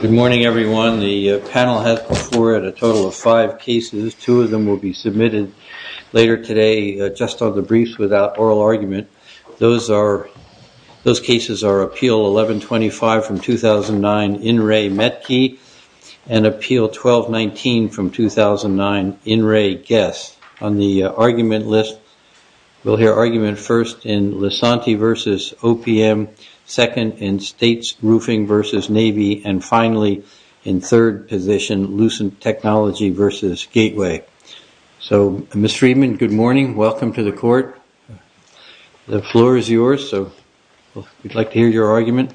Good morning, everyone. The panel has before it a total of five cases. Two of them will be submitted later today, just on the briefs, without oral argument. Those cases are Appeal 1125 from 2009, In Re, Metki, and Appeal 1219 from 2009, In Re, Guess. On the argument list, we'll hear argument first in Lasanti v. OPM, second in States Roofing v. Navy, and finally in third position, Lucent Technology v. Gateway. So, Ms. Friedman, good morning. Welcome to the court. The floor is yours, so we'd like to hear your argument.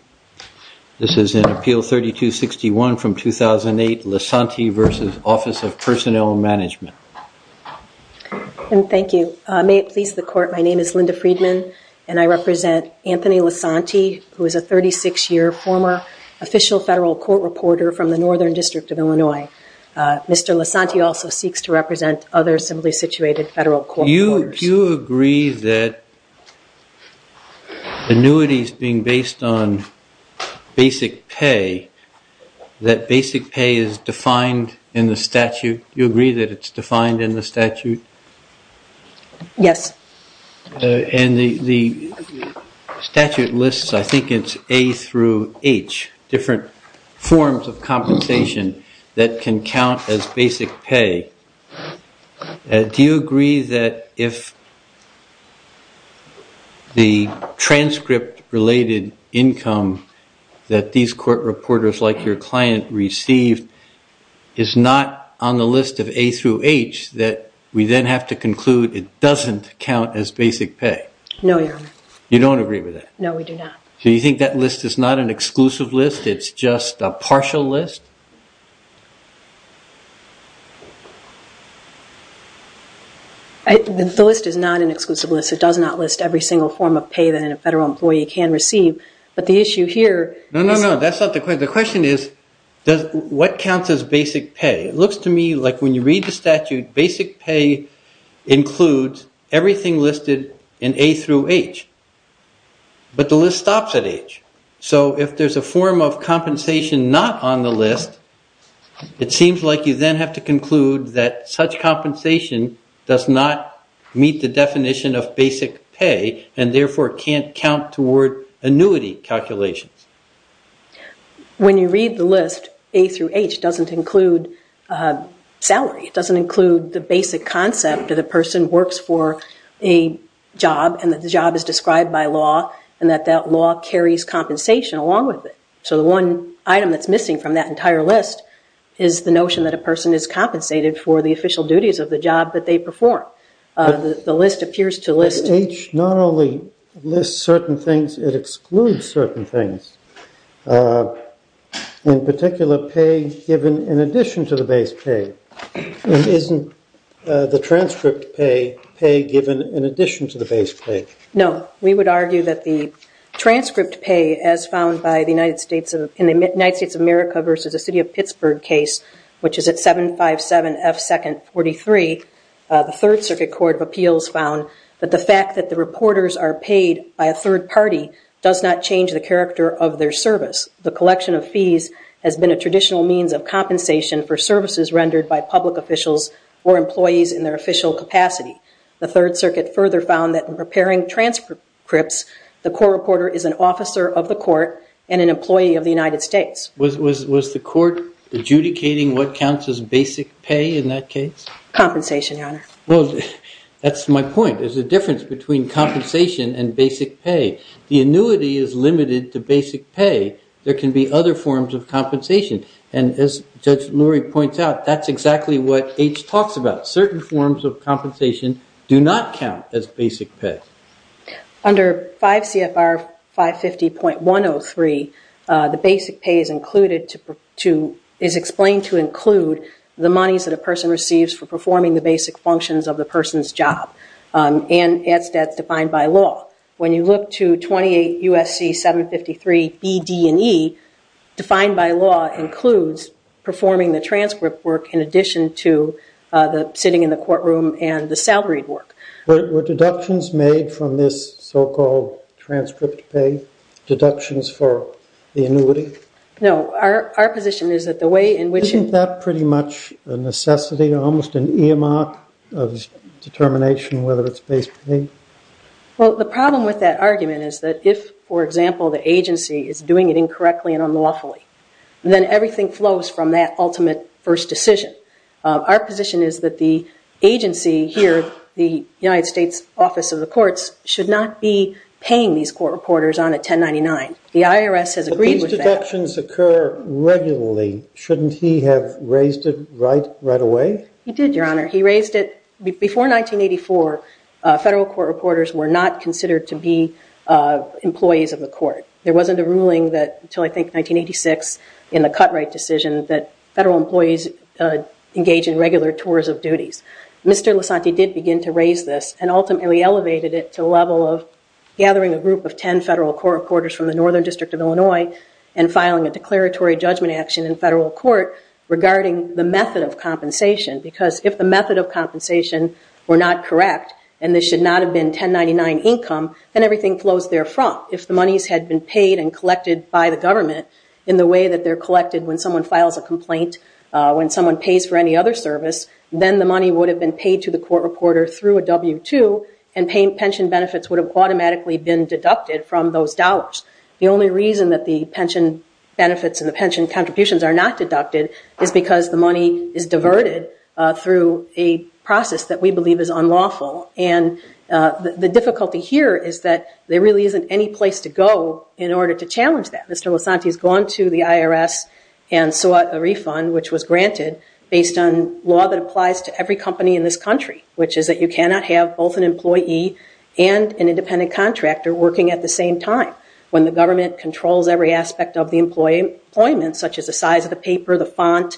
This is in Appeal 3261 from 2008, Lasanti v. Office of Personnel Management. Thank you. May it please the court, my name is Linda Friedman, and I represent Anthony Lasanti, who is a 36-year former official federal court reporter from the Northern District of Illinois. Mr. Lasanti also seeks to represent other similarly situated federal court reporters. Do you agree that annuities being based on basic pay, that basic pay is defined in the statute? Do you agree that it's defined in the statute? Yes. And the statute lists, I think it's A through H, different forms of compensation that can count as basic pay. Do you agree that if the transcript-related income that these court reporters like your client receive is not on the list of A through H, that we then have to conclude it doesn't count as basic pay? No, Your Honor. You don't agree with that? No, we do not. So you think that list is not an exclusive list, it's just a partial list? The list is not an exclusive list, it does not list every single form of pay that a federal employee can receive, but the issue here is... No, no, no, that's not the question. The question is, what counts as basic pay? It looks to me like when you read the statute, basic pay includes everything listed in A through H, but the list stops at H. So if there's a form of compensation not on the list, it seems like you then have to conclude that such compensation does not meet the definition of basic pay, and therefore can't count toward annuity calculations. When you read the list, A through H doesn't include salary, it doesn't include the basic concept that a person works for a job, and that the job is described by law, and that that law carries compensation along with it. So the one item that's missing from that entire list is the notion that a person is compensated for the official duties of the job that they perform. But H not only lists certain things, it excludes certain things. In particular, pay given in addition to the base pay. Isn't the transcript pay given in addition to the base pay? No, we would argue that the transcript pay, as found in the United States of America versus the City of Pittsburgh case, which is at 757F2nd43, the Third Circuit Court of Appeals found that the fact that the reporters are paid by a third party does not change the character of their service. The collection of fees has been a traditional means of compensation for services rendered by public officials or employees in their official capacity. The Third Circuit further found that in preparing transcripts, the court reporter is an officer of the court and an employee of the United States. Was the court adjudicating what counts as basic pay in that case? Well, that's my point. There's a difference between compensation and basic pay. The annuity is limited to basic pay. There can be other forms of compensation. And as Judge Lurie points out, that's exactly what H talks about. Certain forms of compensation do not count as basic pay. Under 5 CFR 550.103, the basic pay is explained to include the monies that a person receives for performing the basic functions of the person's job and as that's defined by law. When you look to 28 U.S.C. 753 B, D, and E, defined by law includes performing the transcript work in addition to the sitting in the courtroom and the salaried work. Were deductions made from this so-called transcript pay, deductions for the annuity? No. Our position is that the way in which... Isn't that pretty much a necessity, almost an earmark of determination whether it's basic pay? Well, the problem with that argument is that if, for example, the agency is doing it incorrectly and unlawfully, then everything flows from that ultimate first decision. Our position is that the agency here, the United States Office of the Courts, should not be paying these court reporters on a 1099. The IRS has agreed with that. But these deductions occur regularly. Shouldn't he have raised it right away? He did, Your Honor. He raised it before 1984. Federal court reporters were not considered to be employees of the court. There wasn't a ruling until, I think, 1986 in the cut-right decision that federal employees engage in regular tours of duties. Mr. Lasanti did begin to raise this and ultimately elevated it to the level of gathering a group of 10 federal court reporters from the Northern District of Illinois and filing a declaratory judgment action in federal court regarding the method of compensation. Because if the method of compensation were not correct and this should not have been 1099 income, then everything flows therefrom. If the monies had been paid and collected by the government in the way that they're collected when someone files a complaint, when someone pays for any other service, then the money would have been paid to the court reporter through a W-2 and pension benefits would have automatically been deducted from those dollars. The only reason that the pension benefits and the pension contributions are not deducted is because the money is diverted through a process that we believe is unlawful. The difficulty here is that there really isn't any place to go in order to challenge that. Mr. Lasanti has gone to the IRS and sought a refund, which was granted, based on law that applies to every company in this country, which is that you cannot have both an employee and an independent contractor working at the same time. When the government controls every aspect of the employment, such as the size of the paper, the font,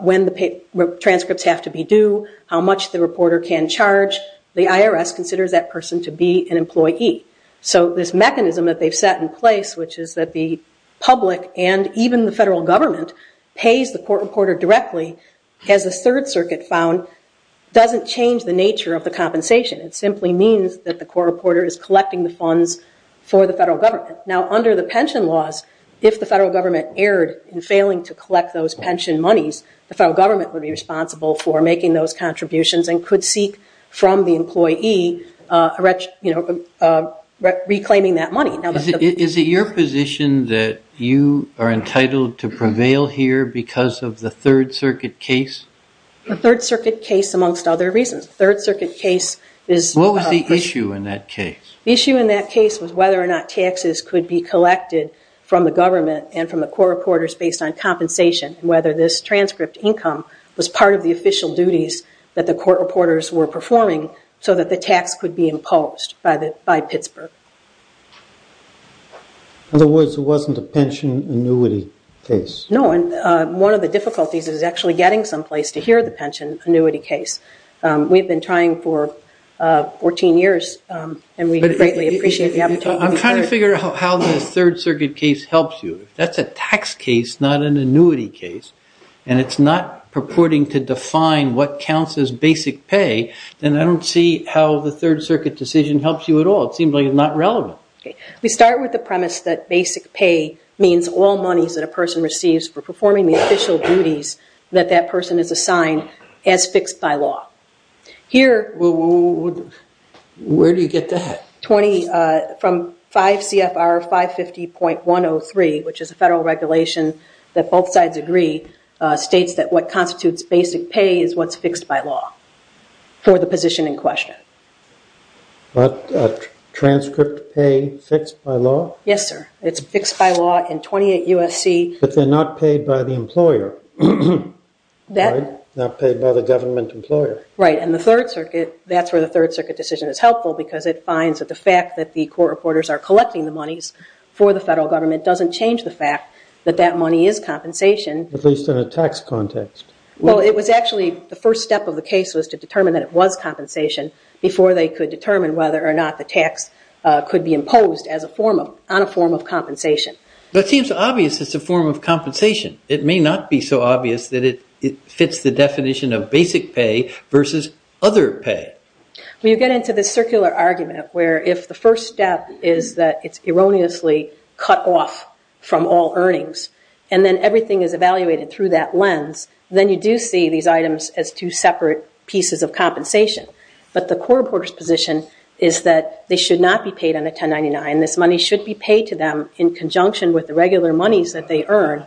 when the transcripts have to be due, how much the reporter can charge, the IRS considers that person to be an employee. So this mechanism that they've set in place, which is that the public and even the federal government pays the court reporter directly, as the Third Circuit found, doesn't change the nature of the compensation. It simply means that the court reporter is collecting the funds for the federal government. Now, under the pension laws, if the federal government erred in failing to collect those pension monies, the federal government would be responsible for making those contributions and could seek from the employee reclaiming that money. Is it your position that you are entitled to prevail here because of the Third Circuit case? The Third Circuit case, amongst other reasons. What was the issue in that case? The issue in that case was whether or not taxes could be collected from the government and from the court reporters based on compensation, and whether this transcript income was part of the official duties that the court reporters were performing so that the tax could be imposed by Pittsburgh. In other words, it wasn't a pension annuity case. No, and one of the difficulties is actually getting someplace to hear the pension annuity case. We've been trying for 14 years, and we greatly appreciate the opportunity. I'm trying to figure out how the Third Circuit case helps you. If that's a tax case, not an annuity case, and it's not purporting to define what counts as basic pay, then I don't see how the Third Circuit decision helps you at all. It seems like it's not relevant. We start with the premise that basic pay means all monies that a person receives for performing the official duties that that person is assigned as fixed by law. Where do you get that? From 5 CFR 550.103, which is a federal regulation that both sides agree, states that what constitutes basic pay is what's fixed by law for the position in question. What, transcript pay fixed by law? Yes, sir. It's fixed by law in 28 U.S.C. But they're not paid by the employer, right? Not paid by the government employer. Right, and that's where the Third Circuit decision is helpful because it finds that the fact that the court reporters are collecting the monies for the federal government doesn't change the fact that that money is compensation. At least in a tax context. Well, it was actually the first step of the case was to determine that it was compensation before they could determine whether or not the tax could be imposed on a form of compensation. That seems obvious it's a form of compensation. It may not be so obvious that it fits the definition of basic pay versus other pay. Well, you get into this circular argument where if the first step is that it's erroneously cut off from all earnings and then everything is evaluated through that lens, then you do see these items as two separate pieces of compensation. But the court reporter's position is that they should not be paid under 1099. This money should be paid to them in conjunction with the regular monies that they earn.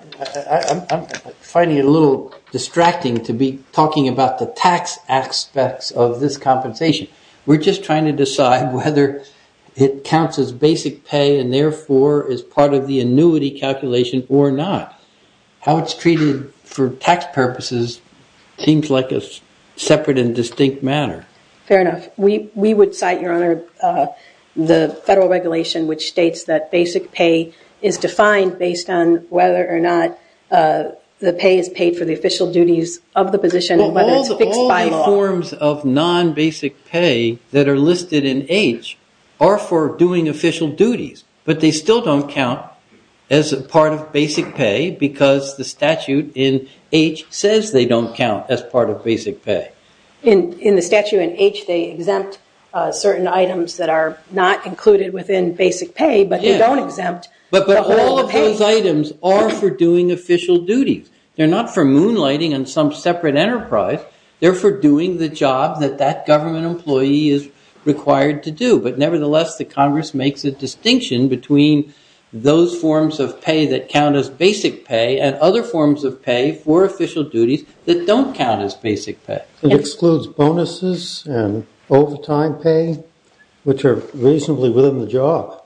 I'm finding it a little distracting to be talking about the tax aspects of this compensation. We're just trying to decide whether it counts as basic pay and therefore is part of the annuity calculation or not. How it's treated for tax purposes seems like a separate and distinct manner. Fair enough. We would cite, Your Honor, the federal regulation which states that basic pay is defined based on whether or not the pay is paid for the official duties of the position and whether it's fixed by law. All the forms of non-basic pay that are listed in H are for doing official duties, but they still don't count as part of basic pay because the statute in H says they don't count as part of basic pay. In the statute in H, they exempt certain items that are not included within basic pay, but they don't exempt the whole pay. But all of those items are for doing official duties. They're not for moonlighting on some separate enterprise. They're for doing the job that that government employee is required to do. But nevertheless, the Congress makes a distinction between those forms of pay that count as basic pay and other forms of pay for official duties that don't count as basic pay. It excludes bonuses and overtime pay, which are reasonably within the job.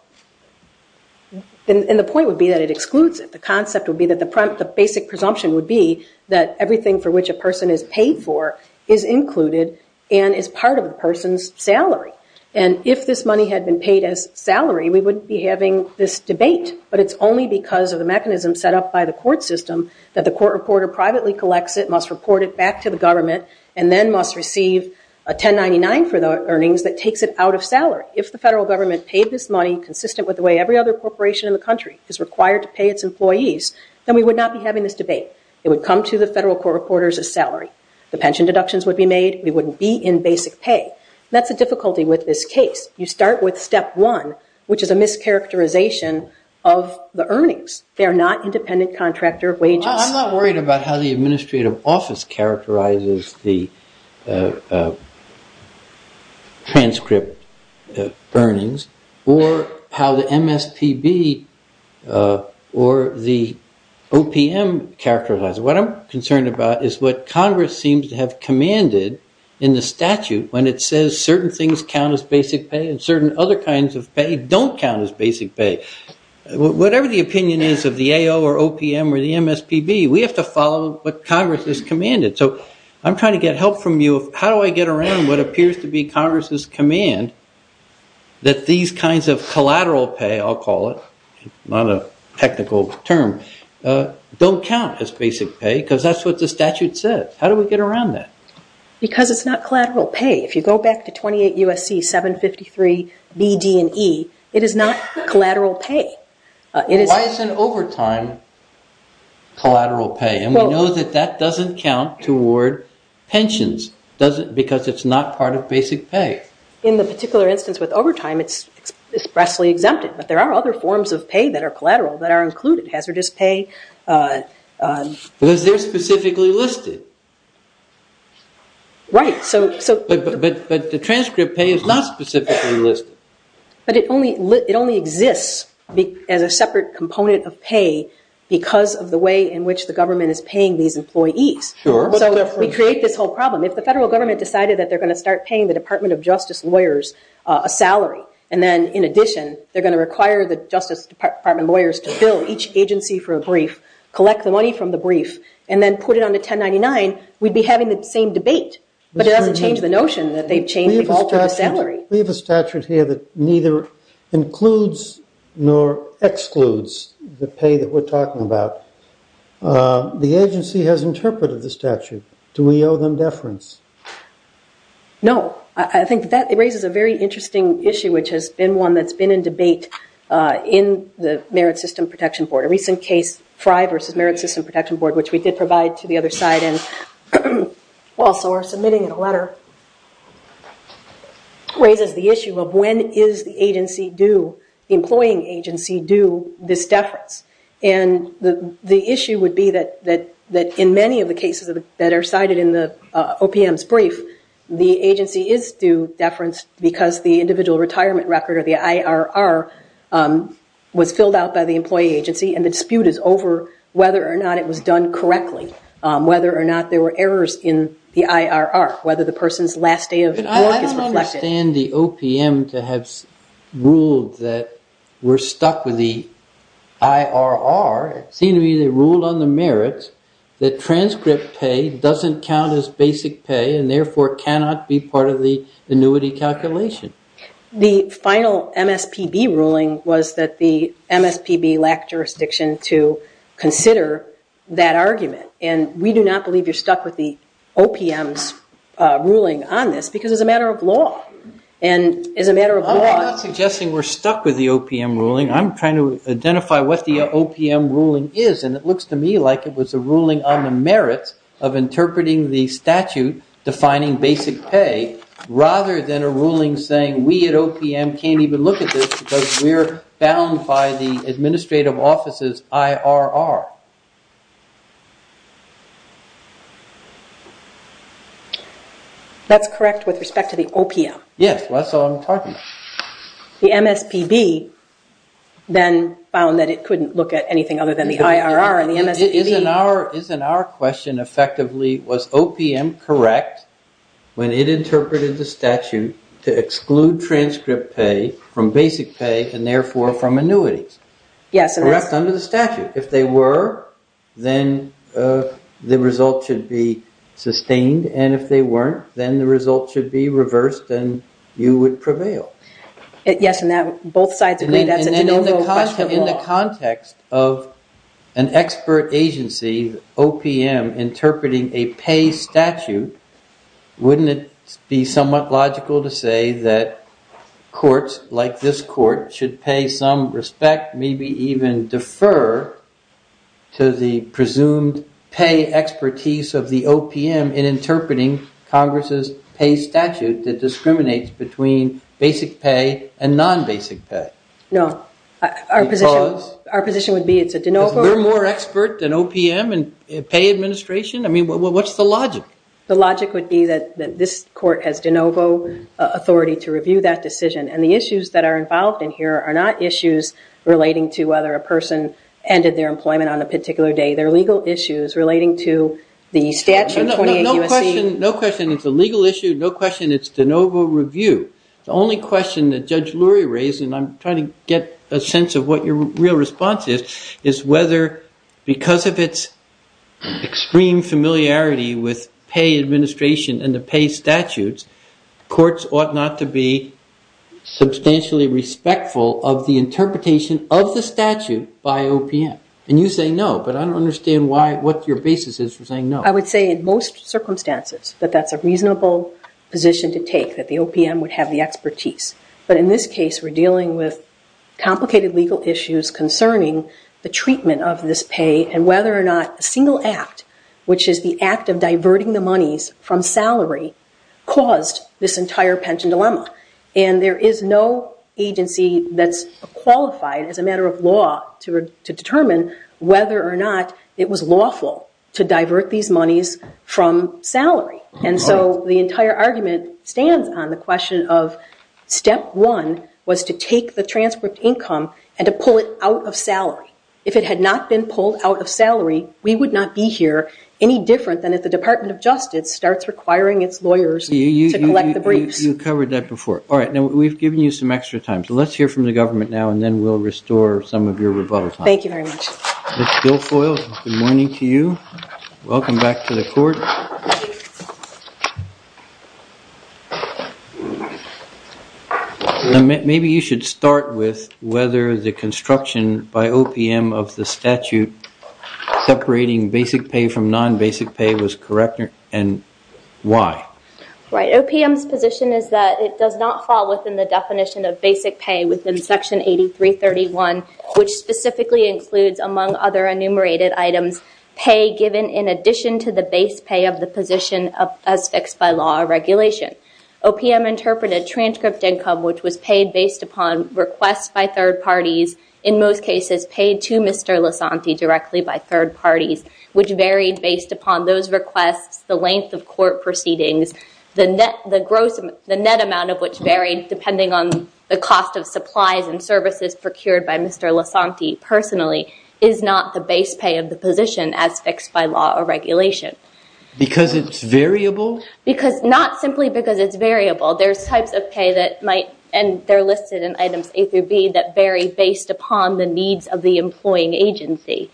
And the point would be that it excludes it. The concept would be that the basic presumption would be that everything for which a person is paid for is included and is part of the person's salary. And if this money had been paid as salary, we wouldn't be having this debate, but it's only because of the mechanism set up by the court system that the court reporter privately collects it, must report it back to the government, and then must receive a 1099 for the earnings that takes it out of salary. If the federal government paid this money consistent with the way every other corporation in the country is required to pay its employees, then we would not be having this debate. It would come to the federal court reporters as salary. The pension deductions would be made. We wouldn't be in basic pay. That's the difficulty with this case. You start with step one, which is a mischaracterization of the earnings. They are not independent contractor wages. I'm not worried about how the administrative office characterizes the transcript earnings or how the MSPB or the OPM characterizes it. What I'm concerned about is what Congress seems to have commanded in the statute when it says certain things count as basic pay and certain other kinds of pay don't count as basic pay. Whatever the opinion is of the AO or OPM or the MSPB, we have to follow what Congress has commanded. So I'm trying to get help from you. How do I get around what appears to be Congress's command that these kinds of collateral pay, I'll call it, not a technical term, don't count as basic pay because that's what the statute says. How do we get around that? Because it's not collateral pay. If you go back to 28 U.S.C. 753 B, D, and E, it is not collateral pay. Why isn't overtime collateral pay? And we know that that doesn't count toward pensions because it's not part of basic pay. In the particular instance with overtime, it's expressly exempted, but there are other forms of pay that are collateral that are included, hazardous pay. Because they're specifically listed. Right. But the transcript pay is not specifically listed. But it only exists as a separate component of pay because of the way in which the government is paying these employees. Sure. So we create this whole problem. If the federal government decided that they're going to start paying the Department of Justice lawyers a salary and then in addition they're going to require the Justice Department lawyers to bill each agency for a brief, and then put it on the 1099, we'd be having the same debate. But it doesn't change the notion that they've changed people's salary. We have a statute here that neither includes nor excludes the pay that we're talking about. The agency has interpreted the statute. Do we owe them deference? No. I think that raises a very interesting issue, which has been one that's been in debate in the Merit System Protection Board. A recent case, Frye v. Merit System Protection Board, which we did provide to the other side and also are submitting in a letter, raises the issue of when is the agency due, the employing agency due this deference. And the issue would be that in many of the cases that are cited in the OPM's brief, the agency is due deference because the individual retirement record, or the IRR, was filled out by the employee agency, and the dispute is over whether or not it was done correctly, whether or not there were errors in the IRR, whether the person's last day of work is reflected. I don't understand the OPM to have ruled that we're stuck with the IRR. It seemed to me they ruled on the merits that transcript pay doesn't count as basic pay and therefore cannot be part of the annuity calculation. The final MSPB ruling was that the MSPB lacked jurisdiction to consider that argument, and we do not believe you're stuck with the OPM's ruling on this because it's a matter of law. I'm not suggesting we're stuck with the OPM ruling. I'm trying to identify what the OPM ruling is, and it looks to me like it was a ruling on the merits of interpreting the statute defining basic pay rather than a ruling saying we at OPM can't even look at this because we're bound by the administrative office's IRR. That's correct with respect to the OPM. Yes, that's all I'm talking about. The MSPB then found that it couldn't look at anything other than the IRR and the MSPB. Isn't our question effectively was OPM correct when it interpreted the statute to exclude transcript pay from basic pay and therefore from annuities? Yes. Correct under the statute. If they were, then the result should be sustained, and if they weren't, then the result should be reversed and you would prevail. Yes, and both sides agreed that's a general question. In the context of an expert agency, OPM, interpreting a pay statute, wouldn't it be somewhat logical to say that courts like this court should pay some respect, maybe even defer to the presumed pay expertise of the OPM in interpreting Congress's pay statute that discriminates between basic pay and non-basic pay? No. Because? Our position would be it's a de novo. Because we're more expert than OPM in pay administration? I mean, what's the logic? The logic would be that this court has de novo authority to review that decision, and the issues that are involved in here are not issues relating to whether a person ended their employment on a particular day. They're legal issues relating to the statute 28 U.S.C. No question it's a legal issue. No question it's de novo review. The only question that Judge Lurie raised, and I'm trying to get a sense of what your real response is, is whether because of its extreme familiarity with pay administration and the pay statutes, courts ought not to be substantially respectful of the interpretation of the statute by OPM. And you say no, but I don't understand what your basis is for saying no. I would say in most circumstances that that's a reasonable position to take, that the OPM would have the expertise. But in this case, we're dealing with complicated legal issues concerning the treatment of this pay and whether or not a single act, which is the act of diverting the monies from salary, caused this entire pension dilemma. And there is no agency that's qualified as a matter of law to determine whether or not it was lawful to divert these monies from salary. And so the entire argument stands on the question of step one was to take the transcript income and to pull it out of salary. If it had not been pulled out of salary, we would not be here any different than if the Department of Justice starts requiring its lawyers to collect the briefs. You covered that before. All right, now we've given you some extra time, so let's hear from the government now and then we'll restore some of your rebuttal time. Thank you very much. Ms. Guilfoyle, good morning to you. Welcome back to the court. Maybe you should start with whether the construction by OPM of the statute separating basic pay from non-basic pay was correct and why. Right, OPM's position is that it does not fall within the definition of basic pay within Section 8331, which specifically includes among other enumerated items pay given in addition to the base pay of the position as fixed by law or regulation. OPM interpreted transcript income, which was paid based upon requests by third parties, in most cases paid to Mr. Lasanti directly by third parties, which varied based upon those requests, the length of court proceedings, the net amount of which varied depending on the cost of supplies and services procured by Mr. Lasanti personally is not the base pay of the position as fixed by law or regulation. Because it's variable? Not simply because it's variable. There's types of pay that might, and they're listed in items A through B, that vary based upon the needs of the employing agency.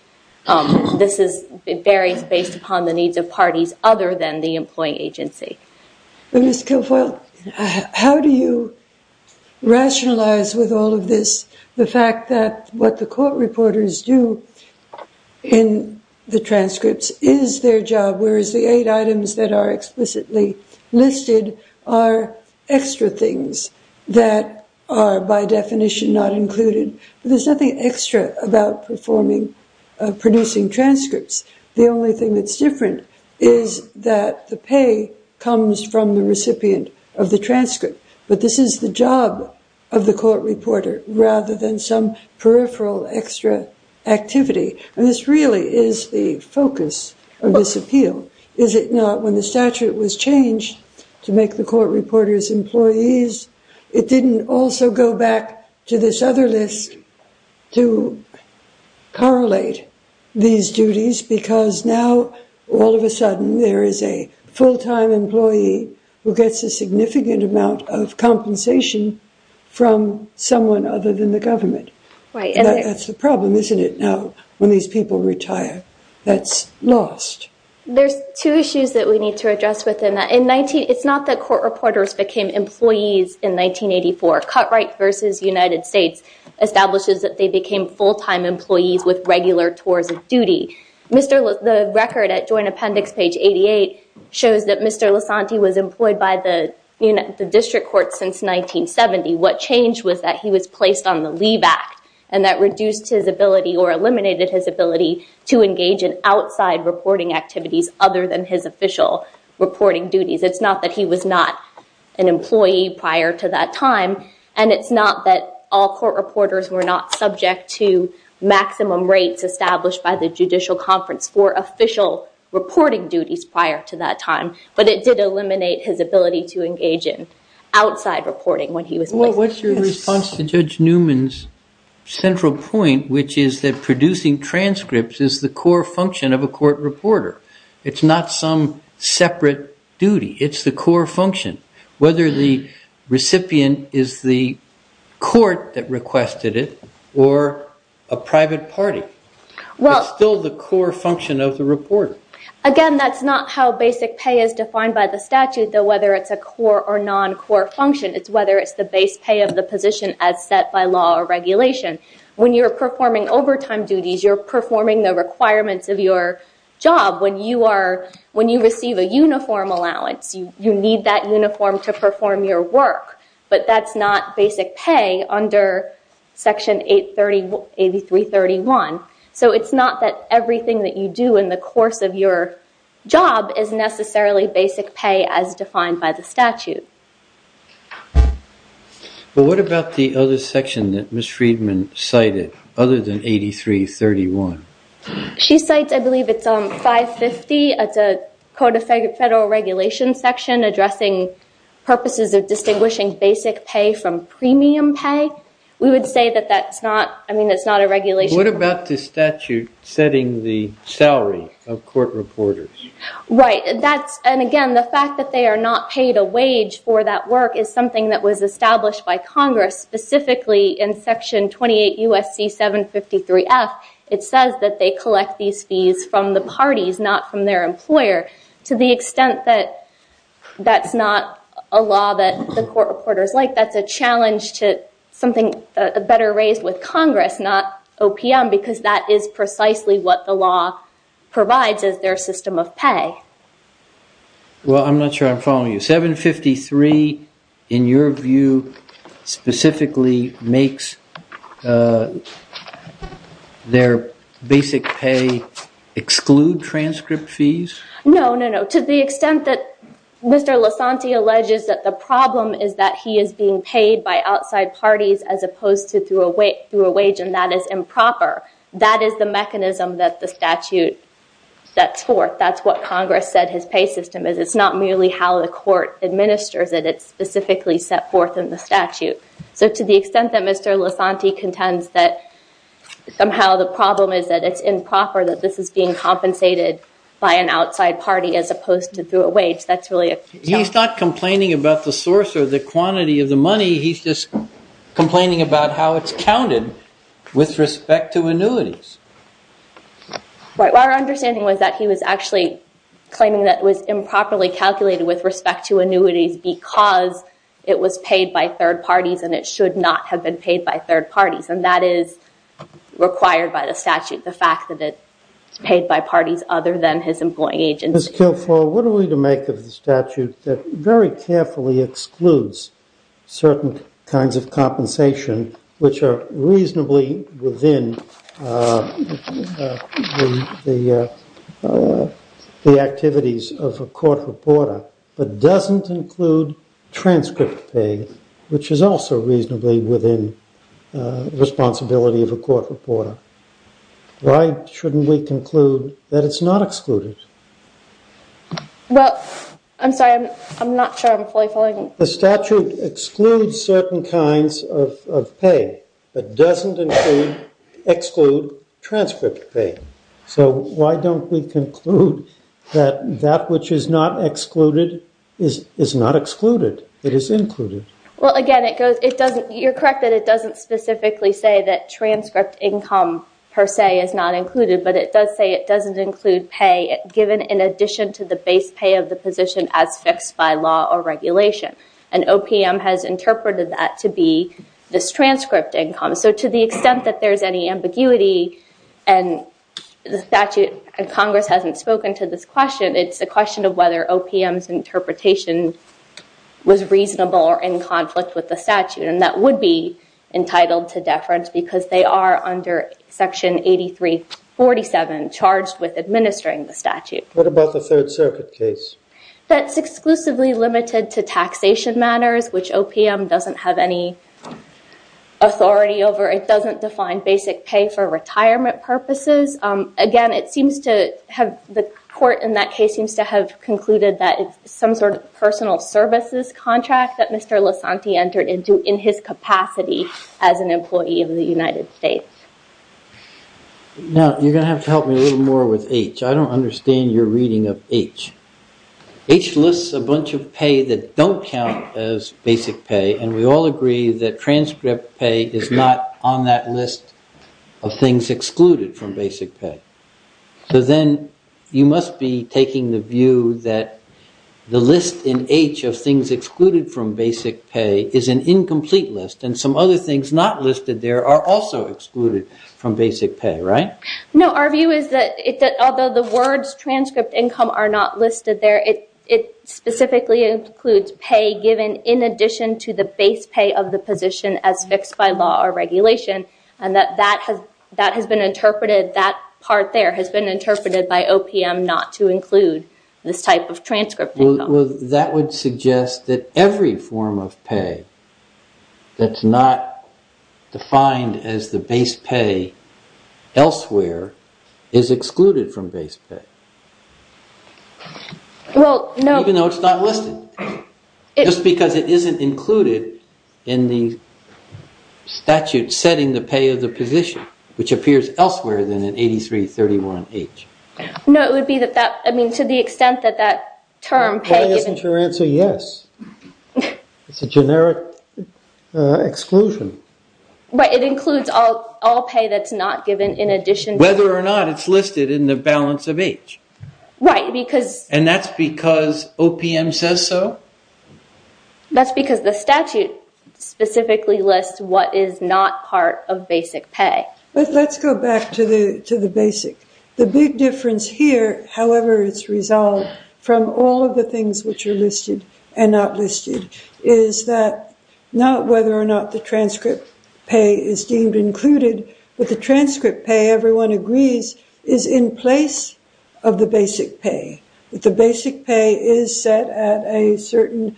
It varies based upon the needs of parties other than the employing agency. Ms. Kilfoyle, how do you rationalize with all of this the fact that what the court reporters do in the transcripts is their job, whereas the eight items that are explicitly listed are extra things that are by definition not included. There's nothing extra about producing transcripts. The only thing that's different is that the pay comes from the recipient of the transcript. But this is the job of the court reporter rather than some peripheral extra activity. And this really is the focus of this appeal. Is it not when the statute was changed to make the court reporters employees, it didn't also go back to this other list to correlate these duties, because now all of a sudden there is a full-time employee who gets a significant amount of compensation from someone other than the government. Right. That's the problem, isn't it, now when these people retire? That's lost. There's two issues that we need to address within that. It's not that court reporters became employees in 1984. Cut-Right v. United States establishes that they became full-time employees with regular tours of duty. The record at Joint Appendix page 88 shows that Mr. Lasanti was employed by the district court since 1970. What changed was that he was placed on the Leave Act, and that reduced his ability or eliminated his ability to engage in outside reporting activities other than his official reporting duties. It's not that he was not an employee prior to that time, and it's not that all court reporters were not subject to maximum rates established by the Judicial Conference for official reporting duties prior to that time, but it did eliminate his ability to engage in outside reporting when he was placed. Well, what's your response to Judge Newman's central point, which is that producing transcripts is the core function of a court reporter? It's not some separate duty. It's the core function, whether the recipient is the court that requested it or a private party. It's still the core function of the reporter. Again, that's not how basic pay is defined by the statute, though whether it's a core or non-core function, it's whether it's the base pay of the position as set by law or regulation. When you're performing overtime duties, you're performing the requirements of your job. When you receive a uniform allowance, you need that uniform to perform your work, but that's not basic pay under Section 8331. So it's not that everything that you do in the course of your job is necessarily basic pay as defined by the statute. Well, what about the other section that Ms. Friedman cited other than 8331? She cites, I believe, it's 550. It's a Code of Federal Regulations section addressing purposes of distinguishing basic pay from premium pay. We would say that that's not a regulation. What about the statute setting the salary of court reporters? Right. Again, the fact that they are not paid a wage for that work is something that was established by Congress, specifically in Section 28 U.S.C. 753F. It says that they collect these fees from the parties, not from their employer. To the extent that that's not a law that the court reporters like, that's a challenge to something better raised with Congress, not OPM, because that is precisely what the law provides as their system of pay. Well, I'm not sure I'm following you. 753, in your view, specifically makes their basic pay exclude transcript fees? No, no, no. To the extent that Mr. Lasanti alleges that the problem is that he is being paid by outside parties as opposed to through a wage, and that is improper, that is the mechanism that the statute sets forth. That's what Congress said his pay system is. It's not merely how the court administers it. It's specifically set forth in the statute. So to the extent that Mr. Lasanti contends that somehow the problem is that it's improper, that this is being compensated by an outside party as opposed to through a wage, that's really a challenge. He's not complaining about the source or the quantity of the money. He's just complaining about how it's counted with respect to annuities. Right. Our understanding was that he was actually claiming that it was improperly calculated with respect to annuities because it was paid by third parties and it should not have been paid by third parties, and that is required by the statute, the fact that it's paid by parties other than his employing agency. Ms. Kilfoyle, what are we to make of the statute that very carefully excludes certain kinds of compensation which are reasonably within the activities of a court reporter but doesn't include transcript pay, which is also reasonably within the responsibility of a court reporter? Why shouldn't we conclude that it's not excluded? Well, I'm sorry. I'm not sure I'm fully following. The statute excludes certain kinds of pay but doesn't exclude transcript pay. So why don't we conclude that that which is not excluded is not excluded. It is included. Well, again, you're correct that it doesn't specifically say that transcript income per se is not included, but it does say it doesn't include pay given in addition to the base pay of the position as fixed by law or regulation, and OPM has interpreted that to be this transcript income. So to the extent that there's any ambiguity and the statute and Congress hasn't spoken to this question, it's a question of whether OPM's interpretation was reasonable or in conflict with the statute, and that would be entitled to deference because they are under Section 8347 charged with administering the statute. What about the Third Circuit case? That's exclusively limited to taxation matters, which OPM doesn't have any authority over. It doesn't define basic pay for retirement purposes. Again, the court in that case seems to have concluded that it's some sort of personal services contract that Mr. Lasanti entered into in his capacity as an employee of the United States. Now, you're going to have to help me a little more with H. I don't understand your reading of H. H lists a bunch of pay that don't count as basic pay, and we all agree that transcript pay is not on that list of things excluded from basic pay. So then you must be taking the view that the list in H of things excluded from basic pay is an incomplete list, and some other things not listed there are also excluded from basic pay, right? No, our view is that although the words transcript income are not listed there, it specifically includes pay given in addition to the base pay of the position as fixed by law or regulation, and that part there has been interpreted by OPM not to include this type of transcript income. That would suggest that every form of pay that's not defined as the base pay elsewhere is excluded from base pay, even though it's not listed, just because it isn't included in the statute setting the pay of the position, which appears elsewhere than in 8331H. No, it would be to the extent that that term pay... Why isn't your answer yes? It's a generic exclusion. But it includes all pay that's not given in addition... Whether or not it's listed in the balance of H. Right, because... And that's because OPM says so? That's because the statute specifically lists what is not part of basic pay. Let's go back to the basic. The big difference here, however it's resolved, from all of the things which are listed and not listed, is that not whether or not the transcript pay is deemed included, but the transcript pay, everyone agrees, is in place of the basic pay. The basic pay is set at a certain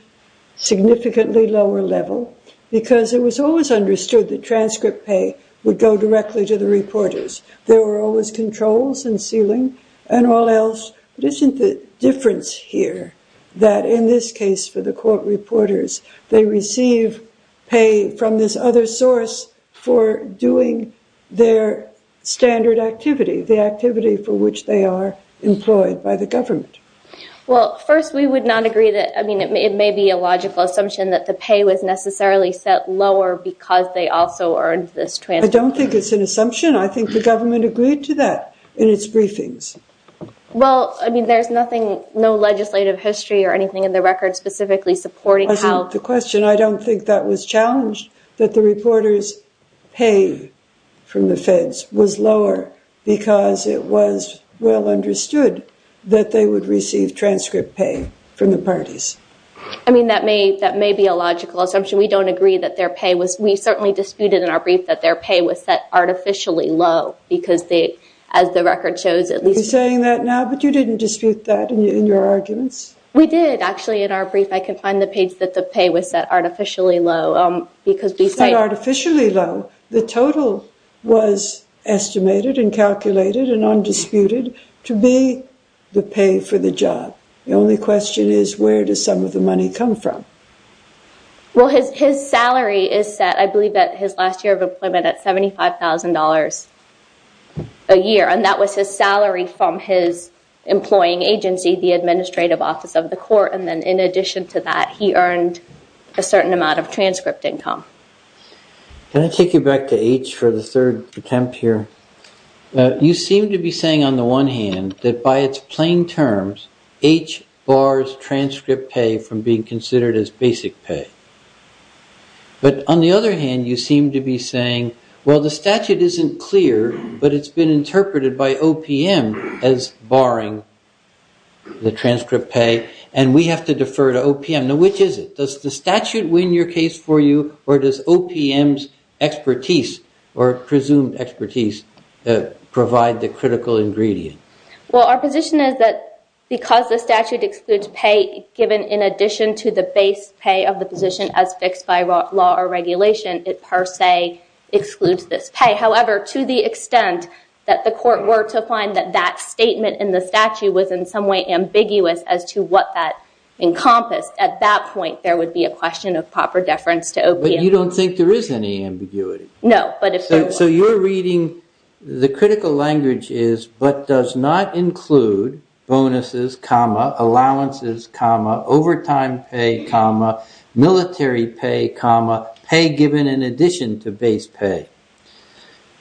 significantly lower level, because it was always understood that transcript pay would go directly to the reporters. There were always controls and sealing and all else. But isn't the difference here that in this case for the court reporters, they receive pay from this other source for doing their standard activity, the activity for which they are employed by the government? Well, first, we would not agree that... I mean, it may be a logical assumption that the pay was necessarily set lower because they also earned this transcript pay. I don't think it's an assumption. I think the government agreed to that in its briefings. Well, I mean, there's nothing, no legislative history or anything in the record specifically supporting how... The question, I don't think that was challenged, that the reporters' pay from the feds was lower because it was well understood that they would receive transcript pay from the parties. I mean, that may be a logical assumption. We don't agree that their pay was... We certainly disputed in our brief that their pay was set artificially low, because as the record shows, at least... Are you saying that now? But you didn't dispute that in your arguments? We did, actually, in our brief. I can find the page that the pay was set artificially low because we say... Set artificially low? The total was estimated and calculated and undisputed to be the pay for the job. The only question is, where does some of the money come from? Well, his salary is set, I believe, at his last year of employment at $75,000 a year, and that was his salary from his employing agency, the Administrative Office of the Court, and then in addition to that, he earned a certain amount of transcript income. Can I take you back to H for the third attempt here? You seem to be saying, on the one hand, that by its plain terms, H bars transcript pay from being considered as basic pay. But on the other hand, you seem to be saying, well, the statute isn't clear, but it's been interpreted by OPM as barring the transcript pay, and we have to defer to OPM. Now, which is it? Does the statute win your case for you, or does OPM's expertise, or presumed expertise, provide the critical ingredient? Well, our position is that because the statute excludes pay, given in addition to the base pay of the position as fixed by law or regulation, it per se excludes this pay. However, to the extent that the court were to find that that statement in the statute was in some way ambiguous as to what that encompassed, at that point there would be a question of proper deference to OPM. But you don't think there is any ambiguity? No. So you're reading the critical language is, but does not include bonuses, allowances, overtime pay, military pay, pay given in addition to base pay.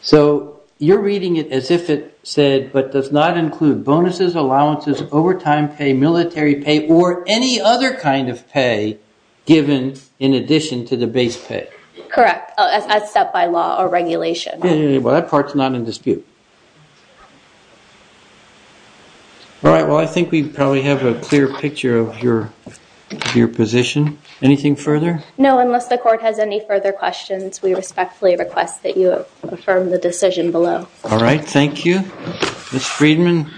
So you're reading it as if it said, but does not include bonuses, allowances, overtime pay, military pay, or any other kind of pay given in addition to the base pay. Correct. As set by law or regulation. Well, that part's not in dispute. All right. Well, I think we probably have a clear picture of your position. Anything further? No. Unless the court has any further questions, we respectfully request that you affirm the decision below. All right. Thank you. Ms. Friedman?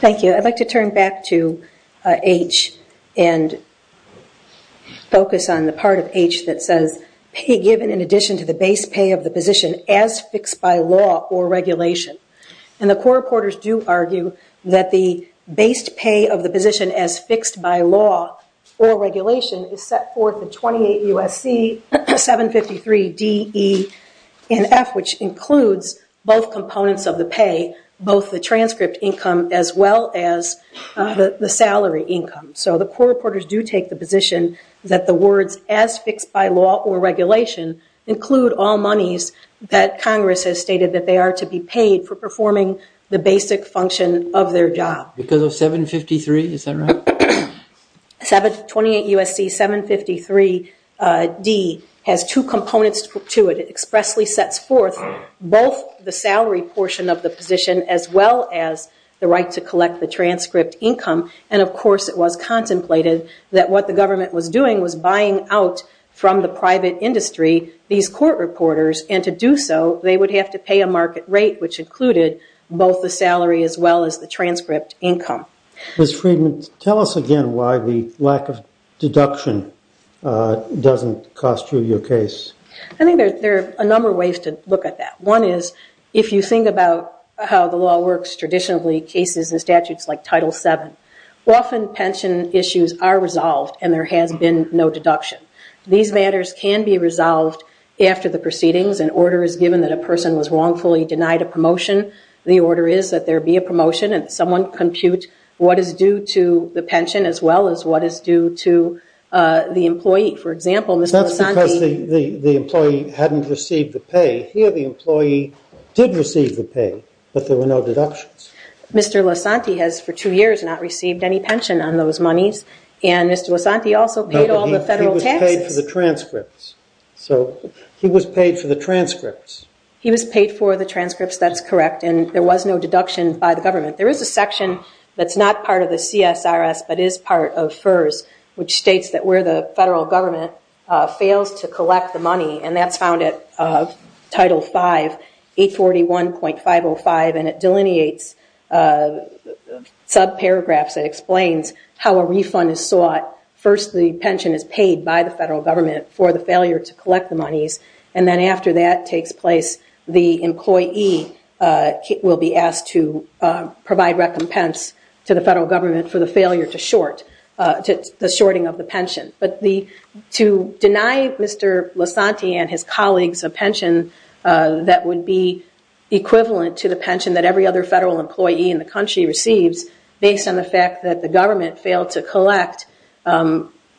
Thank you. I'd like to turn back to H and focus on the part of H that says pay given in addition to the base pay of the position as fixed by law or regulation. And the court reporters do argue that the base pay of the position as fixed by law or regulation is set forth in 28 U.S.C. 753 D, E, and F, which includes both components of the pay, both the transcript income as well as the salary income. So the court reporters do take the position that the words as fixed by law or regulation include all monies that Congress has stated that they are to be paid for performing the basic function of their job. Because of 753? Is that right? 28 U.S.C. 753 D has two components to it. It expressly sets forth both the salary portion of the position as well as the right to collect the transcript income. And, of course, it was contemplated that what the government was doing was buying out from the private industry these court reporters, and to do so they would have to pay a market rate which included both the salary as well as the transcript income. Ms. Friedman, tell us again why the lack of deduction doesn't cost you your case. I think there are a number of ways to look at that. One is if you think about how the law works traditionally, cases and statutes like Title VII, often pension issues are resolved and there has been no deduction. These matters can be resolved after the proceedings. An order is given that a person was wrongfully denied a promotion. The order is that there be a promotion and someone compute what is due to the pension as well as what is due to the employee. That's because the employee hadn't received the pay. Here the employee did receive the pay, but there were no deductions. Mr. Lasanti has for two years not received any pension on those monies, and Mr. Lasanti also paid all the federal taxes. He was paid for the transcripts. He was paid for the transcripts, that's correct, and there was no deduction by the government. There is a section that's not part of the CSRS but is part of FERS which states that where the federal government fails to collect the money, and that's found at Title V, 841.505, and it delineates subparagraphs that explains how a refund is sought. First the pension is paid by the federal government for the failure to collect the monies, and then after that takes place the employee will be asked to provide recompense to the federal government for the failure to short, the shorting of the pension. But to deny Mr. Lasanti and his colleagues a pension that would be equivalent to the pension that every other federal employee in the country receives, based on the fact that the government failed to collect,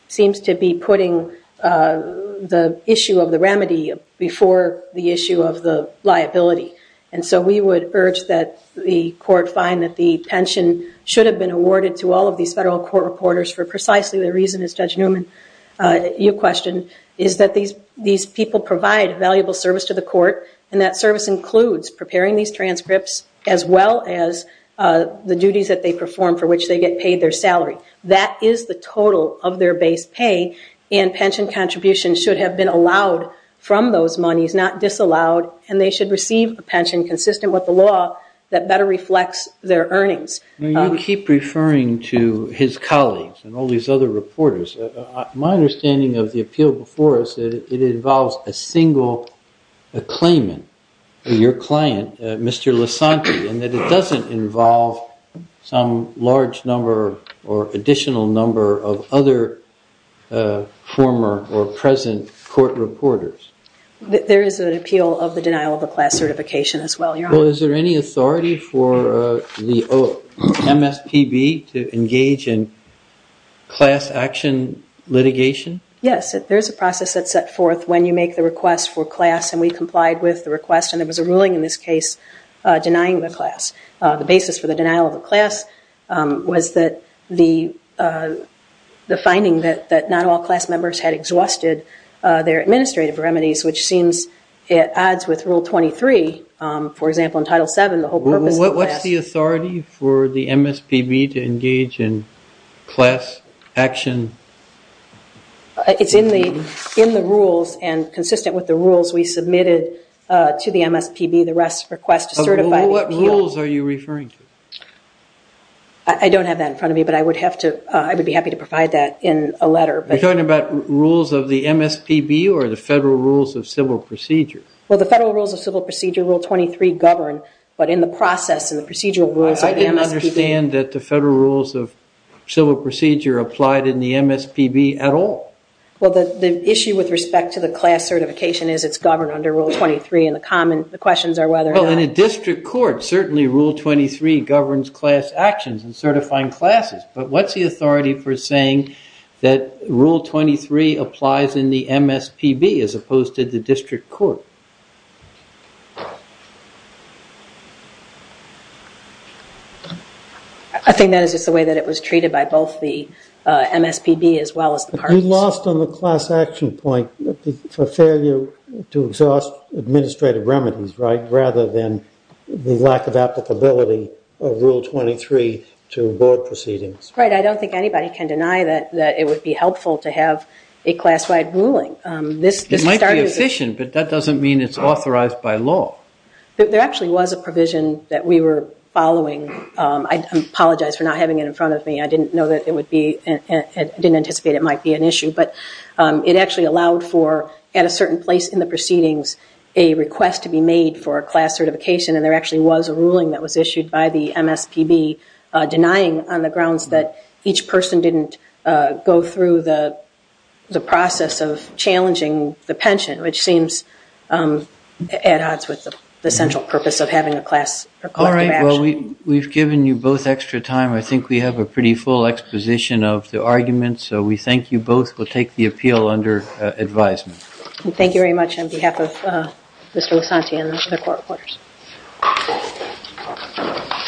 seems to be putting the issue of the remedy before the issue of the liability. And so we would urge that the court find that the pension should have been awarded to all of these federal court reporters for precisely the reason, as Judge Newman, you questioned, is that these people provide valuable service to the court, and that service includes preparing these transcripts as well as the duties that they perform for which they get paid their salary. That is the total of their base pay, and pension contributions should have been allowed from those monies, not disallowed, and they should receive a pension consistent with the law that better reflects their earnings. You keep referring to his colleagues and all these other reporters. My understanding of the appeal before us is that it involves a single claimant, your client, Mr. Lasanti, and that it doesn't involve some large number or additional number of other former or present court reporters. There is an appeal of the denial of the class certification as well, your Honor. Well, is there any authority for the MSPB to engage in class action litigation? Yes. There is a process that's set forth when you make the request for class, and we complied with the request, and there was a ruling in this case denying the class. The basis for the denial of the class was the finding that not all class members had exhausted their administrative remedies, which seems it adds with Rule 23. For example, in Title VII, the whole purpose of the class. What's the authority for the MSPB to engage in class action? It's in the rules and consistent with the rules we submitted to the MSPB. The rest request to certify the appeal. What rules are you referring to? I don't have that in front of me, but I would be happy to provide that in a letter. Are you talking about rules of the MSPB or the Federal Rules of Civil Procedure? Well, the Federal Rules of Civil Procedure, Rule 23, govern, but in the process in the procedural rules of the MSPB. I can understand that the Federal Rules of Civil Procedure applied in the MSPB at all. Well, the issue with respect to the class certification is it's governed under Rule 23, and the questions are whether or not. Well, in a district court, certainly Rule 23 governs class actions and certifying classes, but what's the authority for saying that Rule 23 applies in the MSPB as opposed to the district court? I think that is just the way that it was treated by both the MSPB as well as the parties. You lost on the class action point for failure to exhaust administrative remedies, right, and the lack of applicability of Rule 23 to board proceedings. Right. I don't think anybody can deny that it would be helpful to have a class-wide ruling. It might be efficient, but that doesn't mean it's authorized by law. There actually was a provision that we were following. I apologize for not having it in front of me. I didn't know that it would be – I didn't anticipate it might be an issue, but it actually allowed for, at a certain place in the proceedings, a request to be made for a class certification, and there actually was a ruling that was issued by the MSPB denying on the grounds that each person didn't go through the process of challenging the pension, which seems at odds with the central purpose of having a class. All right. Well, we've given you both extra time. I think we have a pretty full exposition of the arguments, so we thank you both. We'll take the appeal under advisement. Thank you very much on behalf of Mr. Losanti and the court reporters.